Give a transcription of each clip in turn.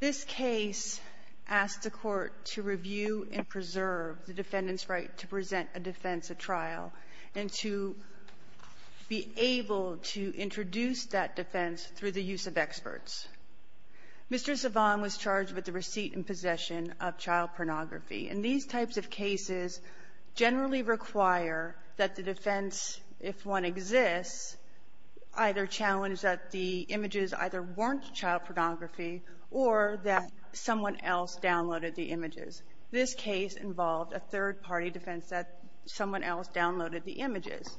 This case asked the court to review and preserve the defendant's right to present a defense at trial and to be able to introduce that defense through the use of experts. Mr. Savanh was charged with the receipt and possession of child pornography, and these types of cases generally require that the defense, if one exists, either challenge that the images either weren't child pornography or that someone else downloaded the images. This case involved a third-party defense that someone else downloaded the images.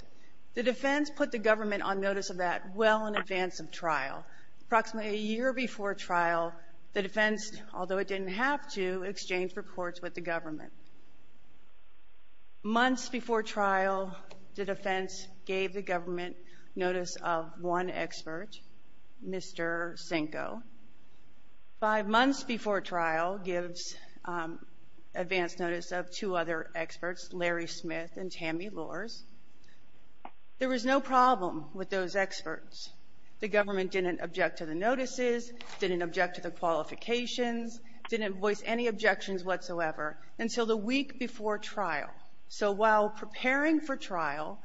The defense put the government on notice of that well in advance of trial. Approximately a year before trial, the defense, although it didn't have to, exchanged reports with the government. Months before trial, the defense gave the government notice of one expert, Mr. Cinco. Five months before trial, it gives advance notice of two other experts, Larry Smith and Tammy Lors. There was no problem with those experts. The government didn't object to the notices, didn't object to the qualifications, didn't voice any objections whatsoever until the week before trial. So while preparing for trial,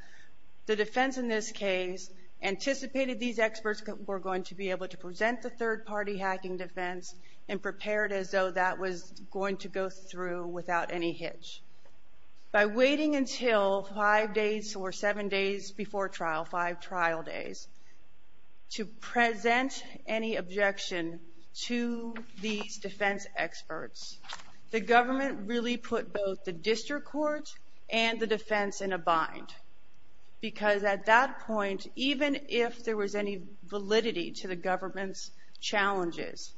the defense in this case anticipated these experts were going to be able to present the third-party hacking defense and prepared as though that was going to go through without any hitch. By waiting until five days or seven days before trial, five trial days, to present any objection to these defense experts, the government really put both the district court and the defense in a bind. Because at that point, even if there was any validity to the government's challenges,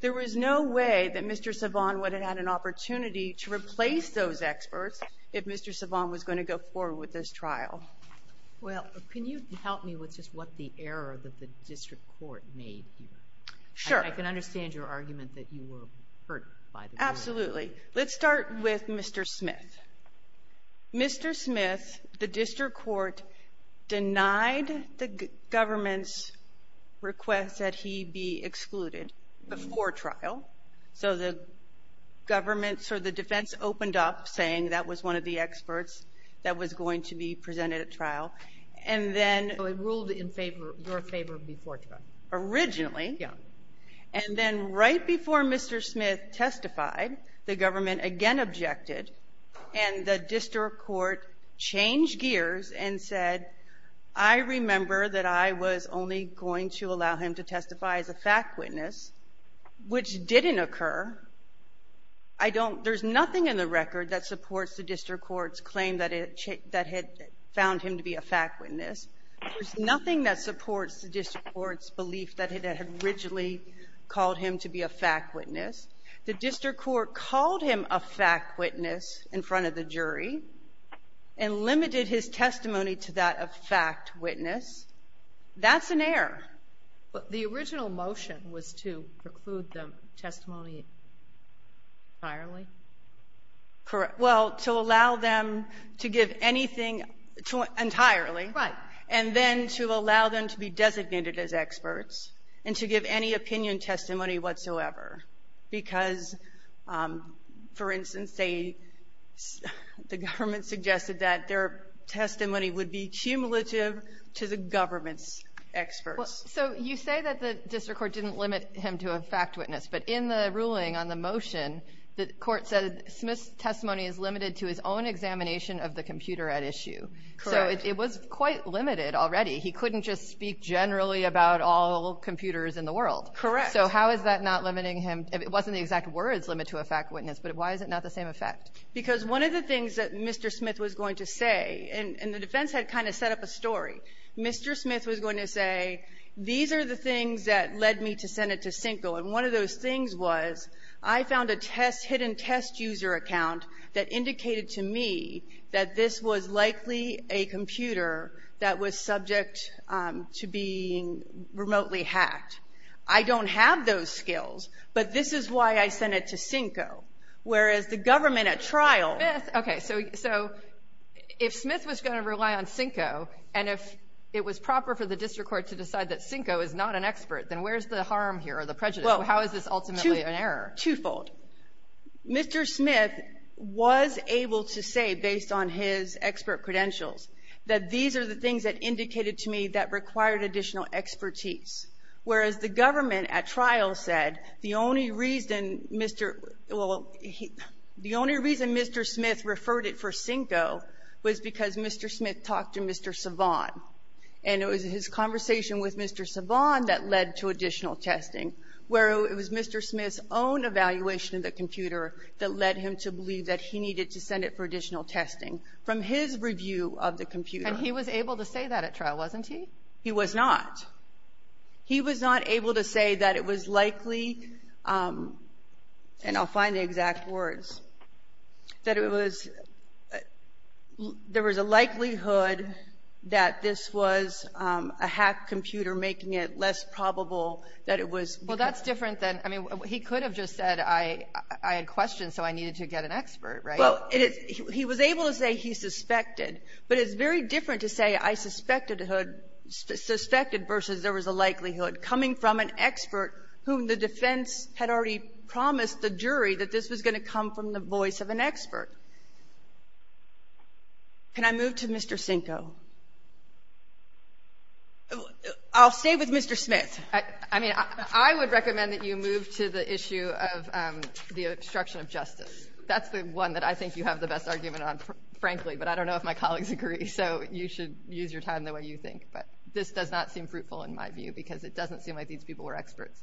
there was no way that Mr. Savant would have had an opportunity to replace those experts if Mr. Savant was going to go forward with this trial. Well, can you help me with just what the error of the district court made here? Sure. I can understand your argument that you were hurt by the government. Absolutely. Let's start with Mr. Smith. Mr. Smith, the district court denied the government's request that he be excluded before trial. So the government, or the defense, opened up saying that was one of the experts that was going to be presented at trial. And then they ruled in favor, your favor, before trial. Originally. Yeah. And then right before Mr. Smith testified, the government again objected, and the district court changed gears and said, I remember that I was only going to allow him to testify as a fact witness, which didn't occur. There's nothing in the record that supports the district court's claim that it found him to be a fact witness. There's nothing that supports the district court's belief that it had originally called him to be a fact witness. The district court called him a fact witness in front of the jury and limited his testimony to that of fact witness. That's an error. But the original motion was to preclude the testimony entirely. Correct. Well, to allow them to give anything entirely. Right. And then to allow them to be designated as experts and to give any opinion testimony whatsoever. Because, for instance, the government suggested that their testimony would be cumulative to the government's experts. So you say that the district court didn't limit him to a fact witness, but in the ruling on the motion, the court said Smith's testimony is limited to his own examination of the computer at issue. Correct. So it was quite limited already. He couldn't just speak generally about all computers in the world. Correct. So how is that not limiting him? It wasn't the exact words, limit to a fact witness, but why is it not the same effect? Because one of the things that Mr. Smith was going to say, and the defense had kind of set up a story, Mr. Smith was going to say, these are the things that led me to send it to Sinkle. And one of those things was I found a test, hidden test user account that indicated to me that this was likely a computer that was subject to being remotely hacked. I don't have those skills, but this is why I sent it to Sinkle, whereas the government at trial. Okay. So if Smith was going to rely on Sinkle and if it was proper for the district court to decide that Sinkle is not an expert, then where's the harm here or the prejudice? How is this ultimately an error? Twofold. Mr. Smith was able to say, based on his expert credentials, that these are the things that indicated to me that required additional expertise, whereas the government at trial said the only reason Mr. — well, the only reason Mr. Smith referred it for Sinkle was because Mr. Smith talked to Mr. Savant. And it was his conversation with Mr. Savant that led to additional testing, where it was Mr. Smith's own evaluation of the computer that led him to believe that he needed to send it for additional testing. From his review of the computer — And he was able to say that at trial, wasn't he? He was not. He was not able to say that it was likely, and I'll find the exact words, that it was — there was a likelihood that this was a hacked computer, making it less probable that it was — Well, that's different than — I mean, he could have just said, I had questions, so I needed to get an expert, right? Well, it is — he was able to say he suspected, but it's very different to say I suspected a hood — suspected versus there was a likelihood coming from an expert whom the defense had already promised the jury that this was going to come from the voice of an expert. Can I move to Mr. Sinko? I'll stay with Mr. Smith. I mean, I would recommend that you move to the issue of the obstruction of justice. That's the one that I think you have the best argument on, frankly, but I don't know if my colleagues agree. So you should use your time the way you think. But this does not seem fruitful in my view, because it doesn't seem like these people were experts.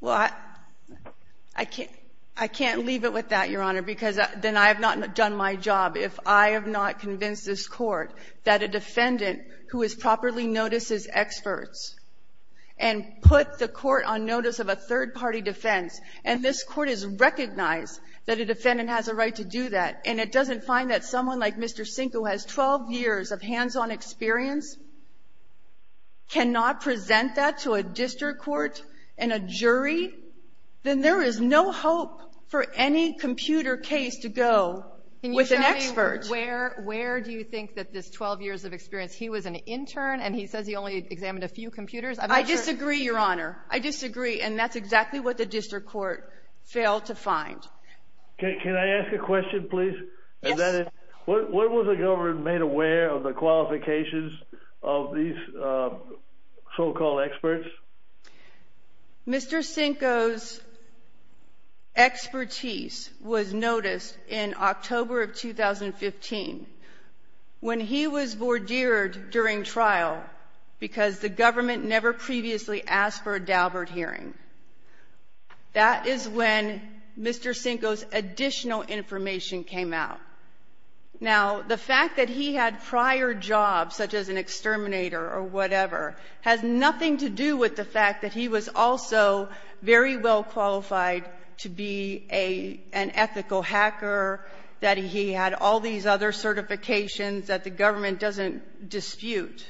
Well, I can't leave it with that, Your Honor, because then I have not done my job. If I have not convinced this Court that a defendant who is properly noticed as experts and put the Court on notice of a third-party defense, and this Court has recognized that a defendant has a right to do that, and it doesn't find that someone like Mr. Sinko has 12 years of hands-on experience, cannot present that to a district court and a jury, then there is no hope for any computer case to go with an expert. Can you tell me where do you think that this 12 years of experience, he was an intern and he says he only examined a few computers? I disagree, Your Honor. I disagree, and that's exactly what the district court failed to find. Can I ask a question, please? Yes. What was the government made aware of the qualifications of these so-called experts? Mr. Sinko's expertise was noticed in October of 2015 when he was vordeered during trial because the government never previously asked for a Daubert hearing. That is when Mr. Sinko's additional information came out. Now, the fact that he had prior jobs, such as an exterminator or whatever, has nothing to do with the fact that he was also very well qualified to be an ethical hacker, that he had all these other certifications that the government doesn't dispute.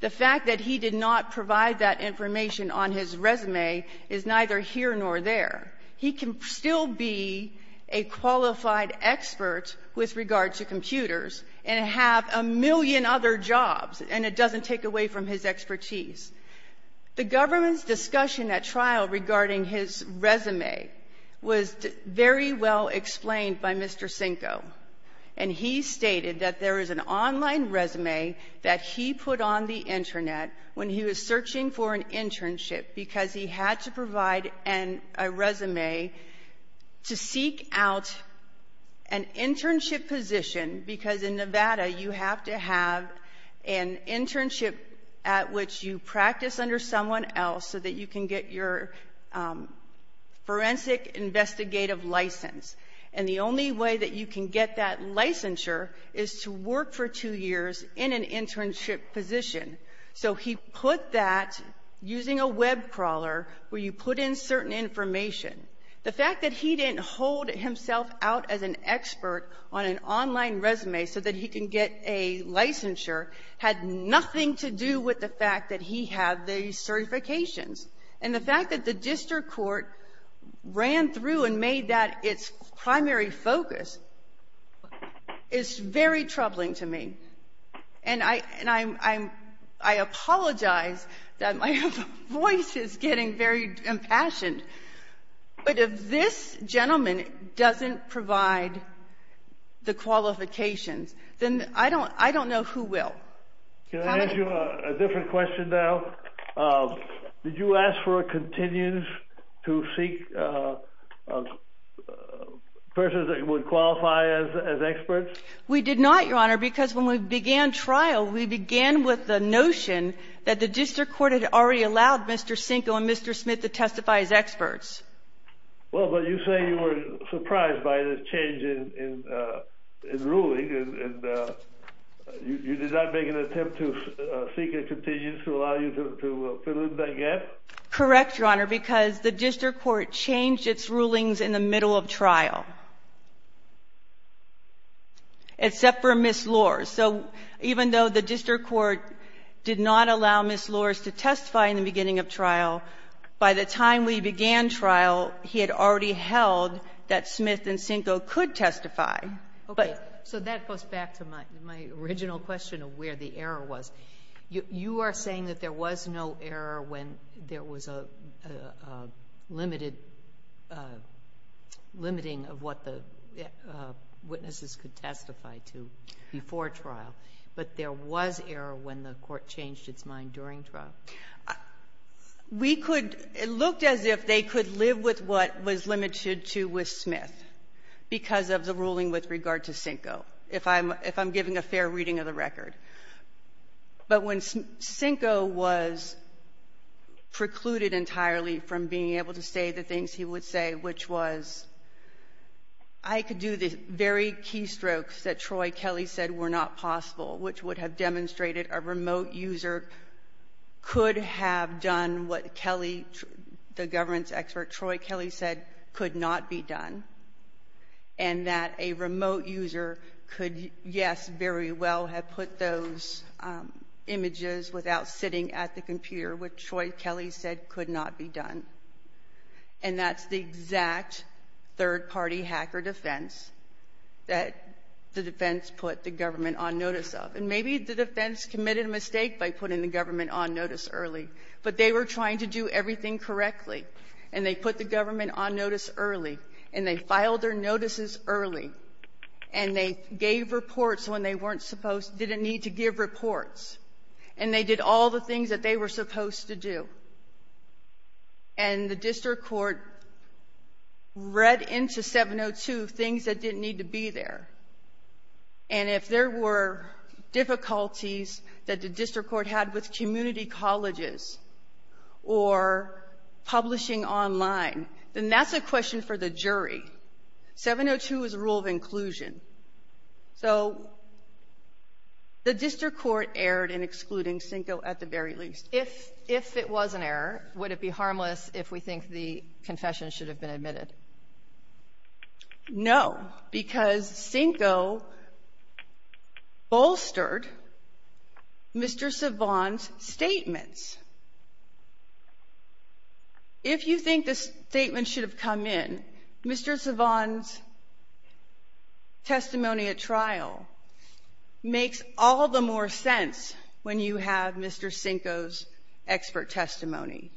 The fact that he did not provide that information on his resume is neither here nor there. He can still be a qualified expert with regard to computers and have a million other jobs, and it doesn't take away from his expertise. The government's discussion at trial regarding his resume was very well explained by Mr. Sinko, and he stated that there is an online resume that he put on the Internet when he was searching for an internship because he had to provide a resume to seek out an internship position because in Nevada you have to have an internship at which you practice under someone else so that you can get your forensic investigative license. And the only way that you can get that licensure is to work for two years in an internship position. So he put that using a web crawler where you put in certain information. The fact that he didn't hold himself out as an expert on an online resume so that he can get a licensure had nothing to do with the fact that he had these certifications. And the fact that the district court ran through and made that its primary focus is very troubling to me. And I apologize that my voice is getting very impassioned, but if this gentleman doesn't provide the qualifications, then I don't know who will. Can I ask you a different question now? Did you ask for a continuance to seek persons that would qualify as experts? We did not, Your Honor, because when we began trial, we began with the notion that the district court had already allowed Mr. Sinko and Mr. Smith to testify as experts. Well, but you say you were surprised by the change in ruling, and you did not make an attempt to seek a continuance to allow you to fill in that gap? Correct, Your Honor, because the district court changed its rulings in the middle of trial, except for Ms. Lors. So even though the district court did not allow Ms. Lors to testify in the beginning of trial, by the time we began trial, he had already held that Smith and Sinko could testify. Okay. So that goes back to my original question of where the error was. You are saying that there was no error when there was a limiting of what the witnesses could testify to before trial, but there was error when the court changed its mind during trial? We could — it looked as if they could live with what was limited to with Smith because of the ruling with regard to Sinko, if I'm giving a fair reading of the record. But when Sinko was precluded entirely from being able to say the things he would say, which was I could do the very keystrokes that Troy Kelly said were not possible, which would have demonstrated a remote user could have done what Kelly, the government's expert Troy Kelly said could not be done, and that a remote user could, yes, very well have put those images without sitting at the computer, which Troy Kelly said could not be done. And that's the exact third-party hacker defense that the defense put the government on notice of. And maybe the defense committed a mistake by putting the government on notice early, but they were trying to do everything correctly. And they put the government on notice early, and they filed their notices early, and they gave reports when they weren't supposed — didn't need to give reports. And they did all the things that they were supposed to do. And the district court read into 702 things that didn't need to be there. And if there were difficulties that the district court had with community colleges or publishing online, then that's a question for the jury. 702 is a rule of inclusion. So the district court erred in excluding Cinco at the very least. If it was an error, would it be harmless if we think the confession should have been admitted? No, because Cinco bolstered Mr. Savant's statements. If you think the statement should have come in, Mr. Savant's testimony at trial makes all the more sense when you have Mr. Cinco's expert testimony.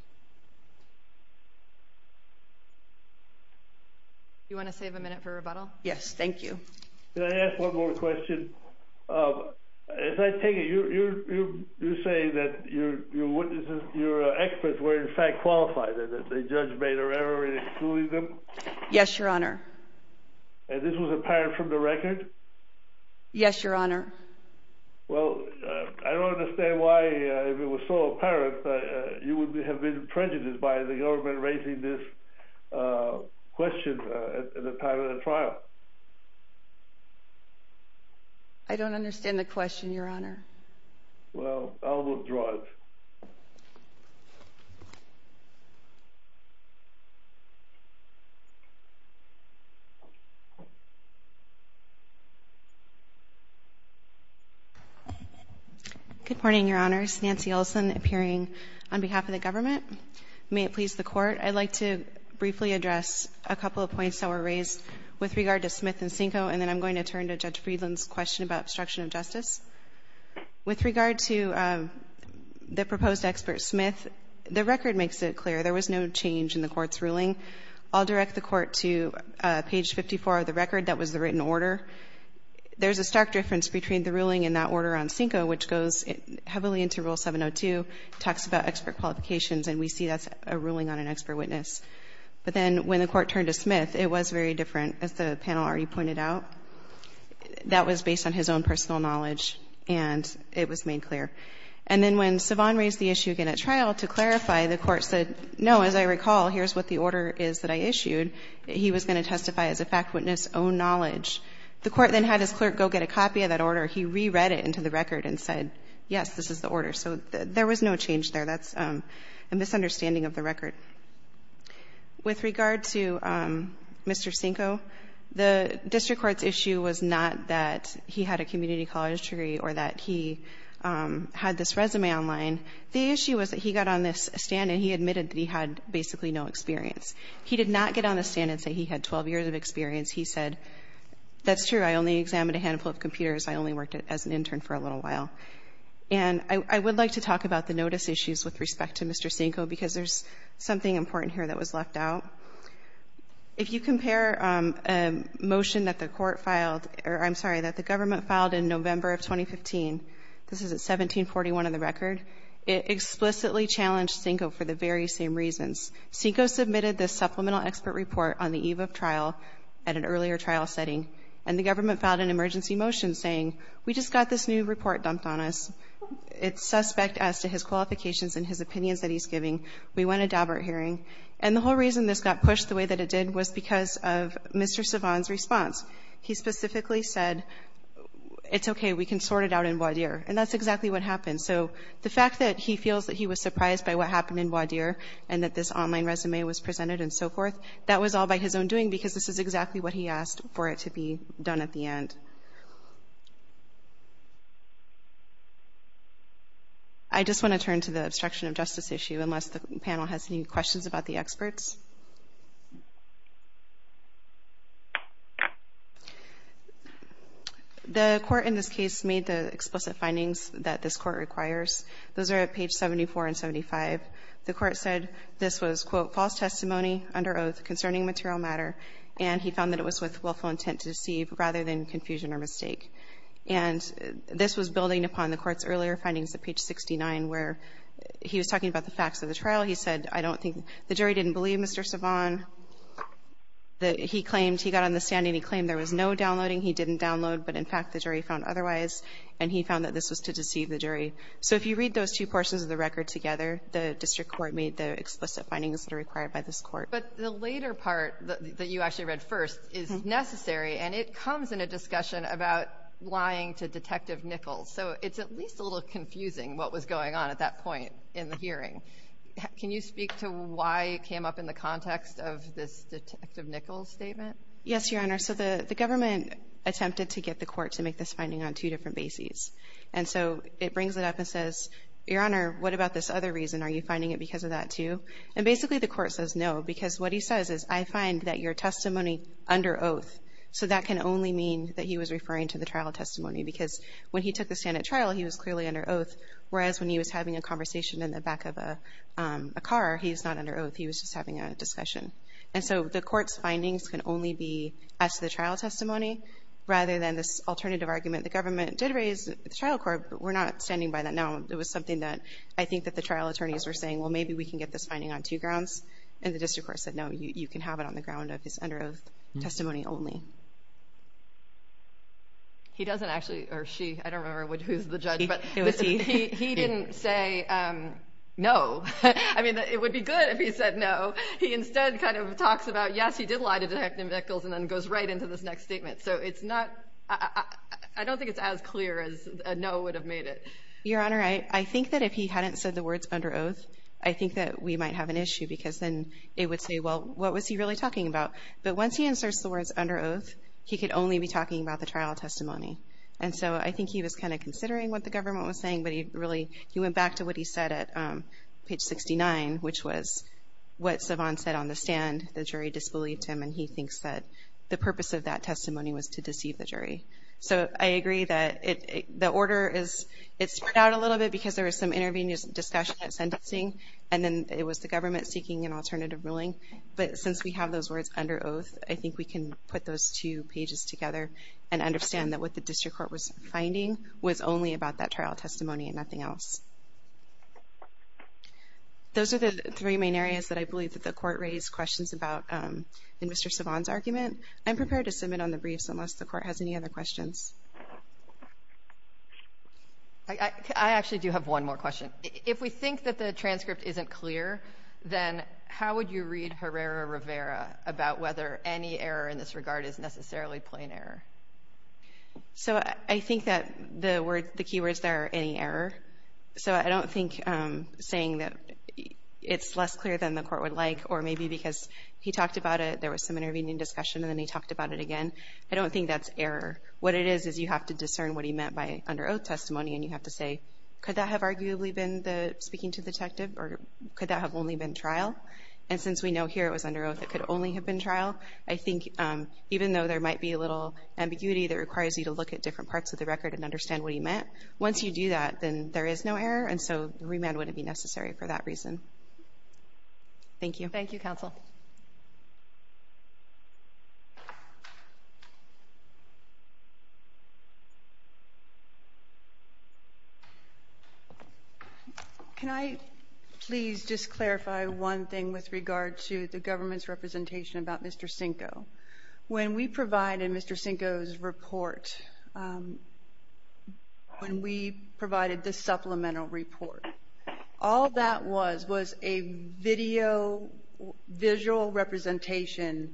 Do you want to save a minute for rebuttal? Yes, thank you. Can I ask one more question? As I take it, you're saying that your witnesses, your experts, were in fact qualified, and that the judge made an error in excluding them? Yes, Your Honor. And this was apparent from the record? Yes, Your Honor. Well, I don't understand why, if it was so apparent, you would have been prejudiced by the government raising this question at the time of the trial. I don't understand the question, Your Honor. Well, I'll withdraw it. Good morning, Your Honors. Nancy Olson, appearing on behalf of the government. May it please the Court, I'd like to briefly address a couple of points that were raised with regard to Smith and Cinco, and then I'm going to turn to Judge Friedland's question about obstruction of justice. With regard to the proposed expert, Smith, the record makes it clear there was no change in the record. I'll direct the Court to page 54 of the record. That was the written order. There's a stark difference between the ruling in that order on Cinco, which goes heavily into Rule 702, talks about expert qualifications, and we see that's a ruling on an expert witness. But then when the Court turned to Smith, it was very different, as the panel already pointed out. That was based on his own personal knowledge, and it was made clear. And then when Savant raised the issue again at trial, to clarify, the Court said, no, as I recall, here's what the order is that I issued. He was going to testify as a fact witness, own knowledge. The Court then had his clerk go get a copy of that order. He re-read it into the record and said, yes, this is the order. So there was no change there. That's a misunderstanding of the record. With regard to Mr. Cinco, the district court's issue was not that he had a community college degree or that he had this resume online. The issue was that he got on this stand and he admitted that he had basically no experience. He did not get on the stand and say he had 12 years of experience. He said, that's true. I only examined a handful of computers. I only worked as an intern for a little while. And I would like to talk about the notice issues with respect to Mr. Cinco, because there's something important here that was left out. If you compare a motion that the Court filed or, I'm sorry, that the government filed in November of 2015, this is at 1741 in the record, it explicitly challenged Cinco for the very same reasons. Cinco submitted this supplemental expert report on the eve of trial at an earlier trial setting, and the government filed an emergency motion saying, we just got this new report dumped on us. It's suspect as to his qualifications and his opinions that he's giving. We want a Daubert hearing. And the whole reason this got pushed the way that it did was because of Mr. Savant's response. He specifically said, it's okay, we can sort it out in voir dire, and that's exactly what happened. So the fact that he feels that he was surprised by what happened in voir dire and that this online resume was presented and so forth, that was all by his own doing because this is exactly what he asked for it to be done at the end. I just want to turn to the obstruction of justice issue, unless the panel has any questions about the experts. The Court in this case made the explicit findings that this Court requires. Those are at page 74 and 75. The Court said this was, quote, false testimony under oath concerning material matter, and he found that it was with willful intent to deceive rather than confuse the public. And this was building upon the Court's earlier findings at page 69 where he was talking about the facts of the trial. He said, I don't think the jury didn't believe Mr. Savant. He claimed he got on the stand and he claimed there was no downloading. He didn't download, but in fact the jury found otherwise, and he found that this was to deceive the jury. So if you read those two portions of the record together, the district court made the explicit findings that are required by this Court. But the later part that you actually read first is necessary, and it comes in a discussion about lying to Detective Nichols. So it's at least a little confusing what was going on at that point in the hearing. Can you speak to why it came up in the context of this Detective Nichols statement? Yes, Your Honor. So the government attempted to get the Court to make this finding on two different bases, and so it brings it up and says, Your Honor, what about this other reason? Are you finding it because of that, too? And basically the Court says no, because what he says is, I find that your testimony under oath. So that can only mean that he was referring to the trial testimony, because when he took the stand at trial, he was clearly under oath, whereas when he was having a conversation in the back of a car, he's not under oath. He was just having a discussion. And so the Court's findings can only be as to the trial testimony rather than this alternative argument. The government did raise the trial court, but we're not standing by that now. It was something that I think that the trial attorneys were saying, well, maybe we can get this finding on two grounds. And the district court said, no, you can have it on the ground of his under oath testimony only. He doesn't actually, or she, I don't remember who's the judge, but he didn't say no. I mean, it would be good if he said no. He instead kind of talks about, yes, he did lie to Detective Nichols and then goes right into this next statement. So it's not, I don't think it's as clear as a no would have made it. Your Honor, I think that if he hadn't said the words under oath, I think that we would have gotten this, and it would say, well, what was he really talking about? But once he inserts the words under oath, he could only be talking about the trial testimony. And so I think he was kind of considering what the government was saying, but he really, he went back to what he said at page 69, which was what Savant said on the stand. The jury disbelieved him, and he thinks that the purpose of that testimony was to deceive the jury. So I agree that the order is, it spread out a little bit because there was some intervening discussion at sentencing, and then it was the government seeking an alternative ruling. But since we have those words under oath, I think we can put those two pages together and understand that what the district court was finding was only about that trial testimony and nothing else. Those are the three main areas that I believe that the Court raised questions about in Mr. Savant's argument. I'm prepared to submit on the briefs unless the Court has any other questions. I actually do have one more question. If we think that the transcript isn't clear, then how would you read Herrera Rivera about whether any error in this regard is necessarily plain error? So I think that the key words there are any error. So I don't think saying that it's less clear than the Court would like or maybe because he talked about it, there was some intervening discussion, and then he talked about it again. I don't think that's error. What it is is you have to discern what he meant by under oath testimony, and you have to say, could that have arguably been the speaking to the detective or could that have only been trial? And since we know here it was under oath, it could only have been trial. I think even though there might be a little ambiguity that requires you to look at different parts of the record and understand what he meant, once you do that, then there is no error, and so remand wouldn't be necessary for that reason. Thank you. Thank you, Counsel. Can I please just clarify one thing with regard to the government's representation about Mr. Cinco? When we provided Mr. Cinco's report, when we provided the supplemental report, all that was was a video, visual representation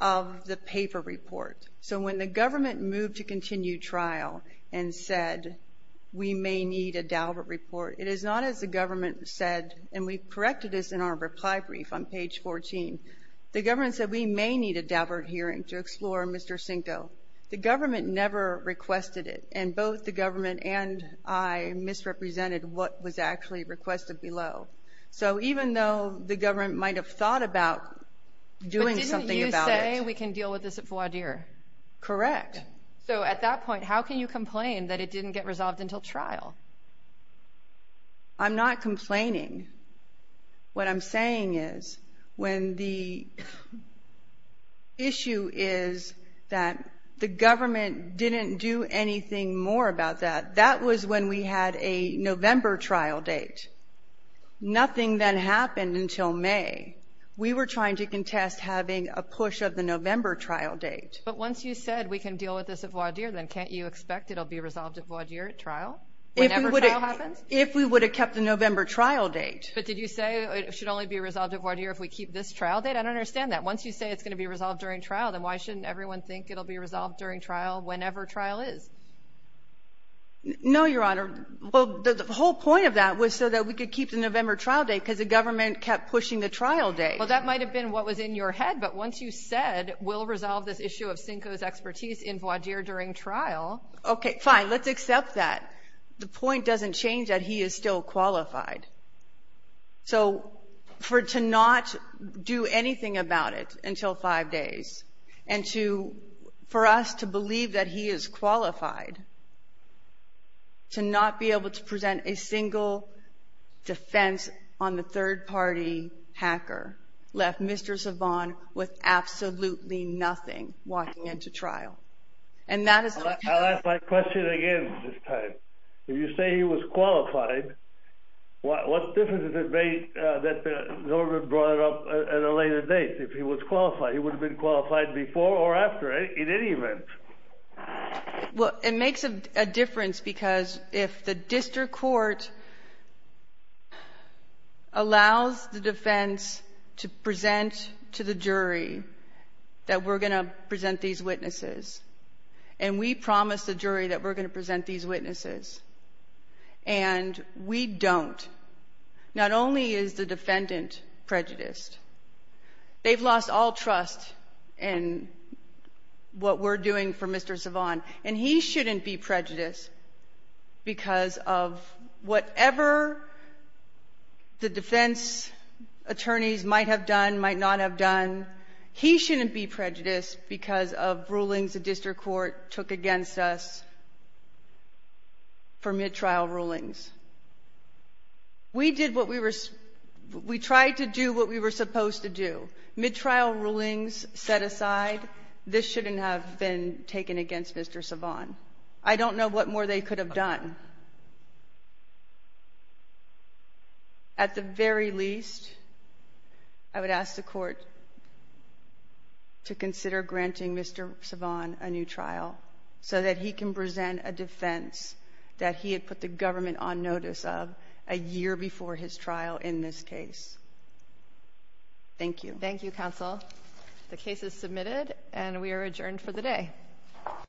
of the paper report. So when the government moved to continue trial and said, we may need a Daubert report, it is not as the government said, and we corrected this in our reply brief on page 14, the government said we may need a Daubert hearing to explore Mr. Cinco. The government never requested it, and both the government and I misrepresented what was actually requested below. So even though the government might have thought about doing something about it. But didn't you say we can deal with this at voir dire? Correct. So at that point, how can you complain that it didn't get resolved until trial? I'm not complaining. What I'm saying is when the issue is that the government didn't do anything more about that, that was when we had a November trial date. Nothing then happened until May. We were trying to contest having a push of the November trial date. But once you said we can deal with this at voir dire, then can't you expect it will be resolved at voir dire at trial? Whenever trial happens? If we would have kept the November trial date. But did you say it should only be resolved at voir dire if we keep this trial date? I don't understand that. Once you say it's going to be resolved during trial, then why shouldn't everyone think it will be resolved during trial whenever trial is? No, Your Honor. Well, the whole point of that was so that we could keep the November trial date because the government kept pushing the trial date. Well, that might have been what was in your head. But once you said we'll resolve this issue of Sinko's expertise in voir dire during trial. Okay, fine. Let's accept that. The point doesn't change that he is still qualified. So for to not do anything about it until five days and for us to believe that he is qualified to not be able to present a single defense on the third-party hacker left Mr. Savant with absolutely nothing walking into trial. I'll ask my question again this time. If you say he was qualified, what difference does it make that the government brought it up at a later date? If he was qualified, he would have been qualified before or after in any event. Well, it makes a difference because if the district court allows the defense to present to the jury that we're going to present these witnesses and we promise the jury that we're going to present these witnesses and we don't, not only is the defendant prejudiced, they've lost all trust in what we're doing for Mr. Savant. And he shouldn't be prejudiced because of whatever the defense attorneys might have done, might not have done. He shouldn't be prejudiced because of rulings the district court took against us for mid-trial rulings. We tried to do what we were supposed to do. Mid-trial rulings set aside, this shouldn't have been taken against Mr. Savant. I don't know what more they could have done. At the very least, I would ask the court to consider granting Mr. Savant a new trial so that he can present a defense that he had put the government on notice of a year before his trial in this case. Thank you. Thank you, counsel. The case is submitted and we are adjourned for the day.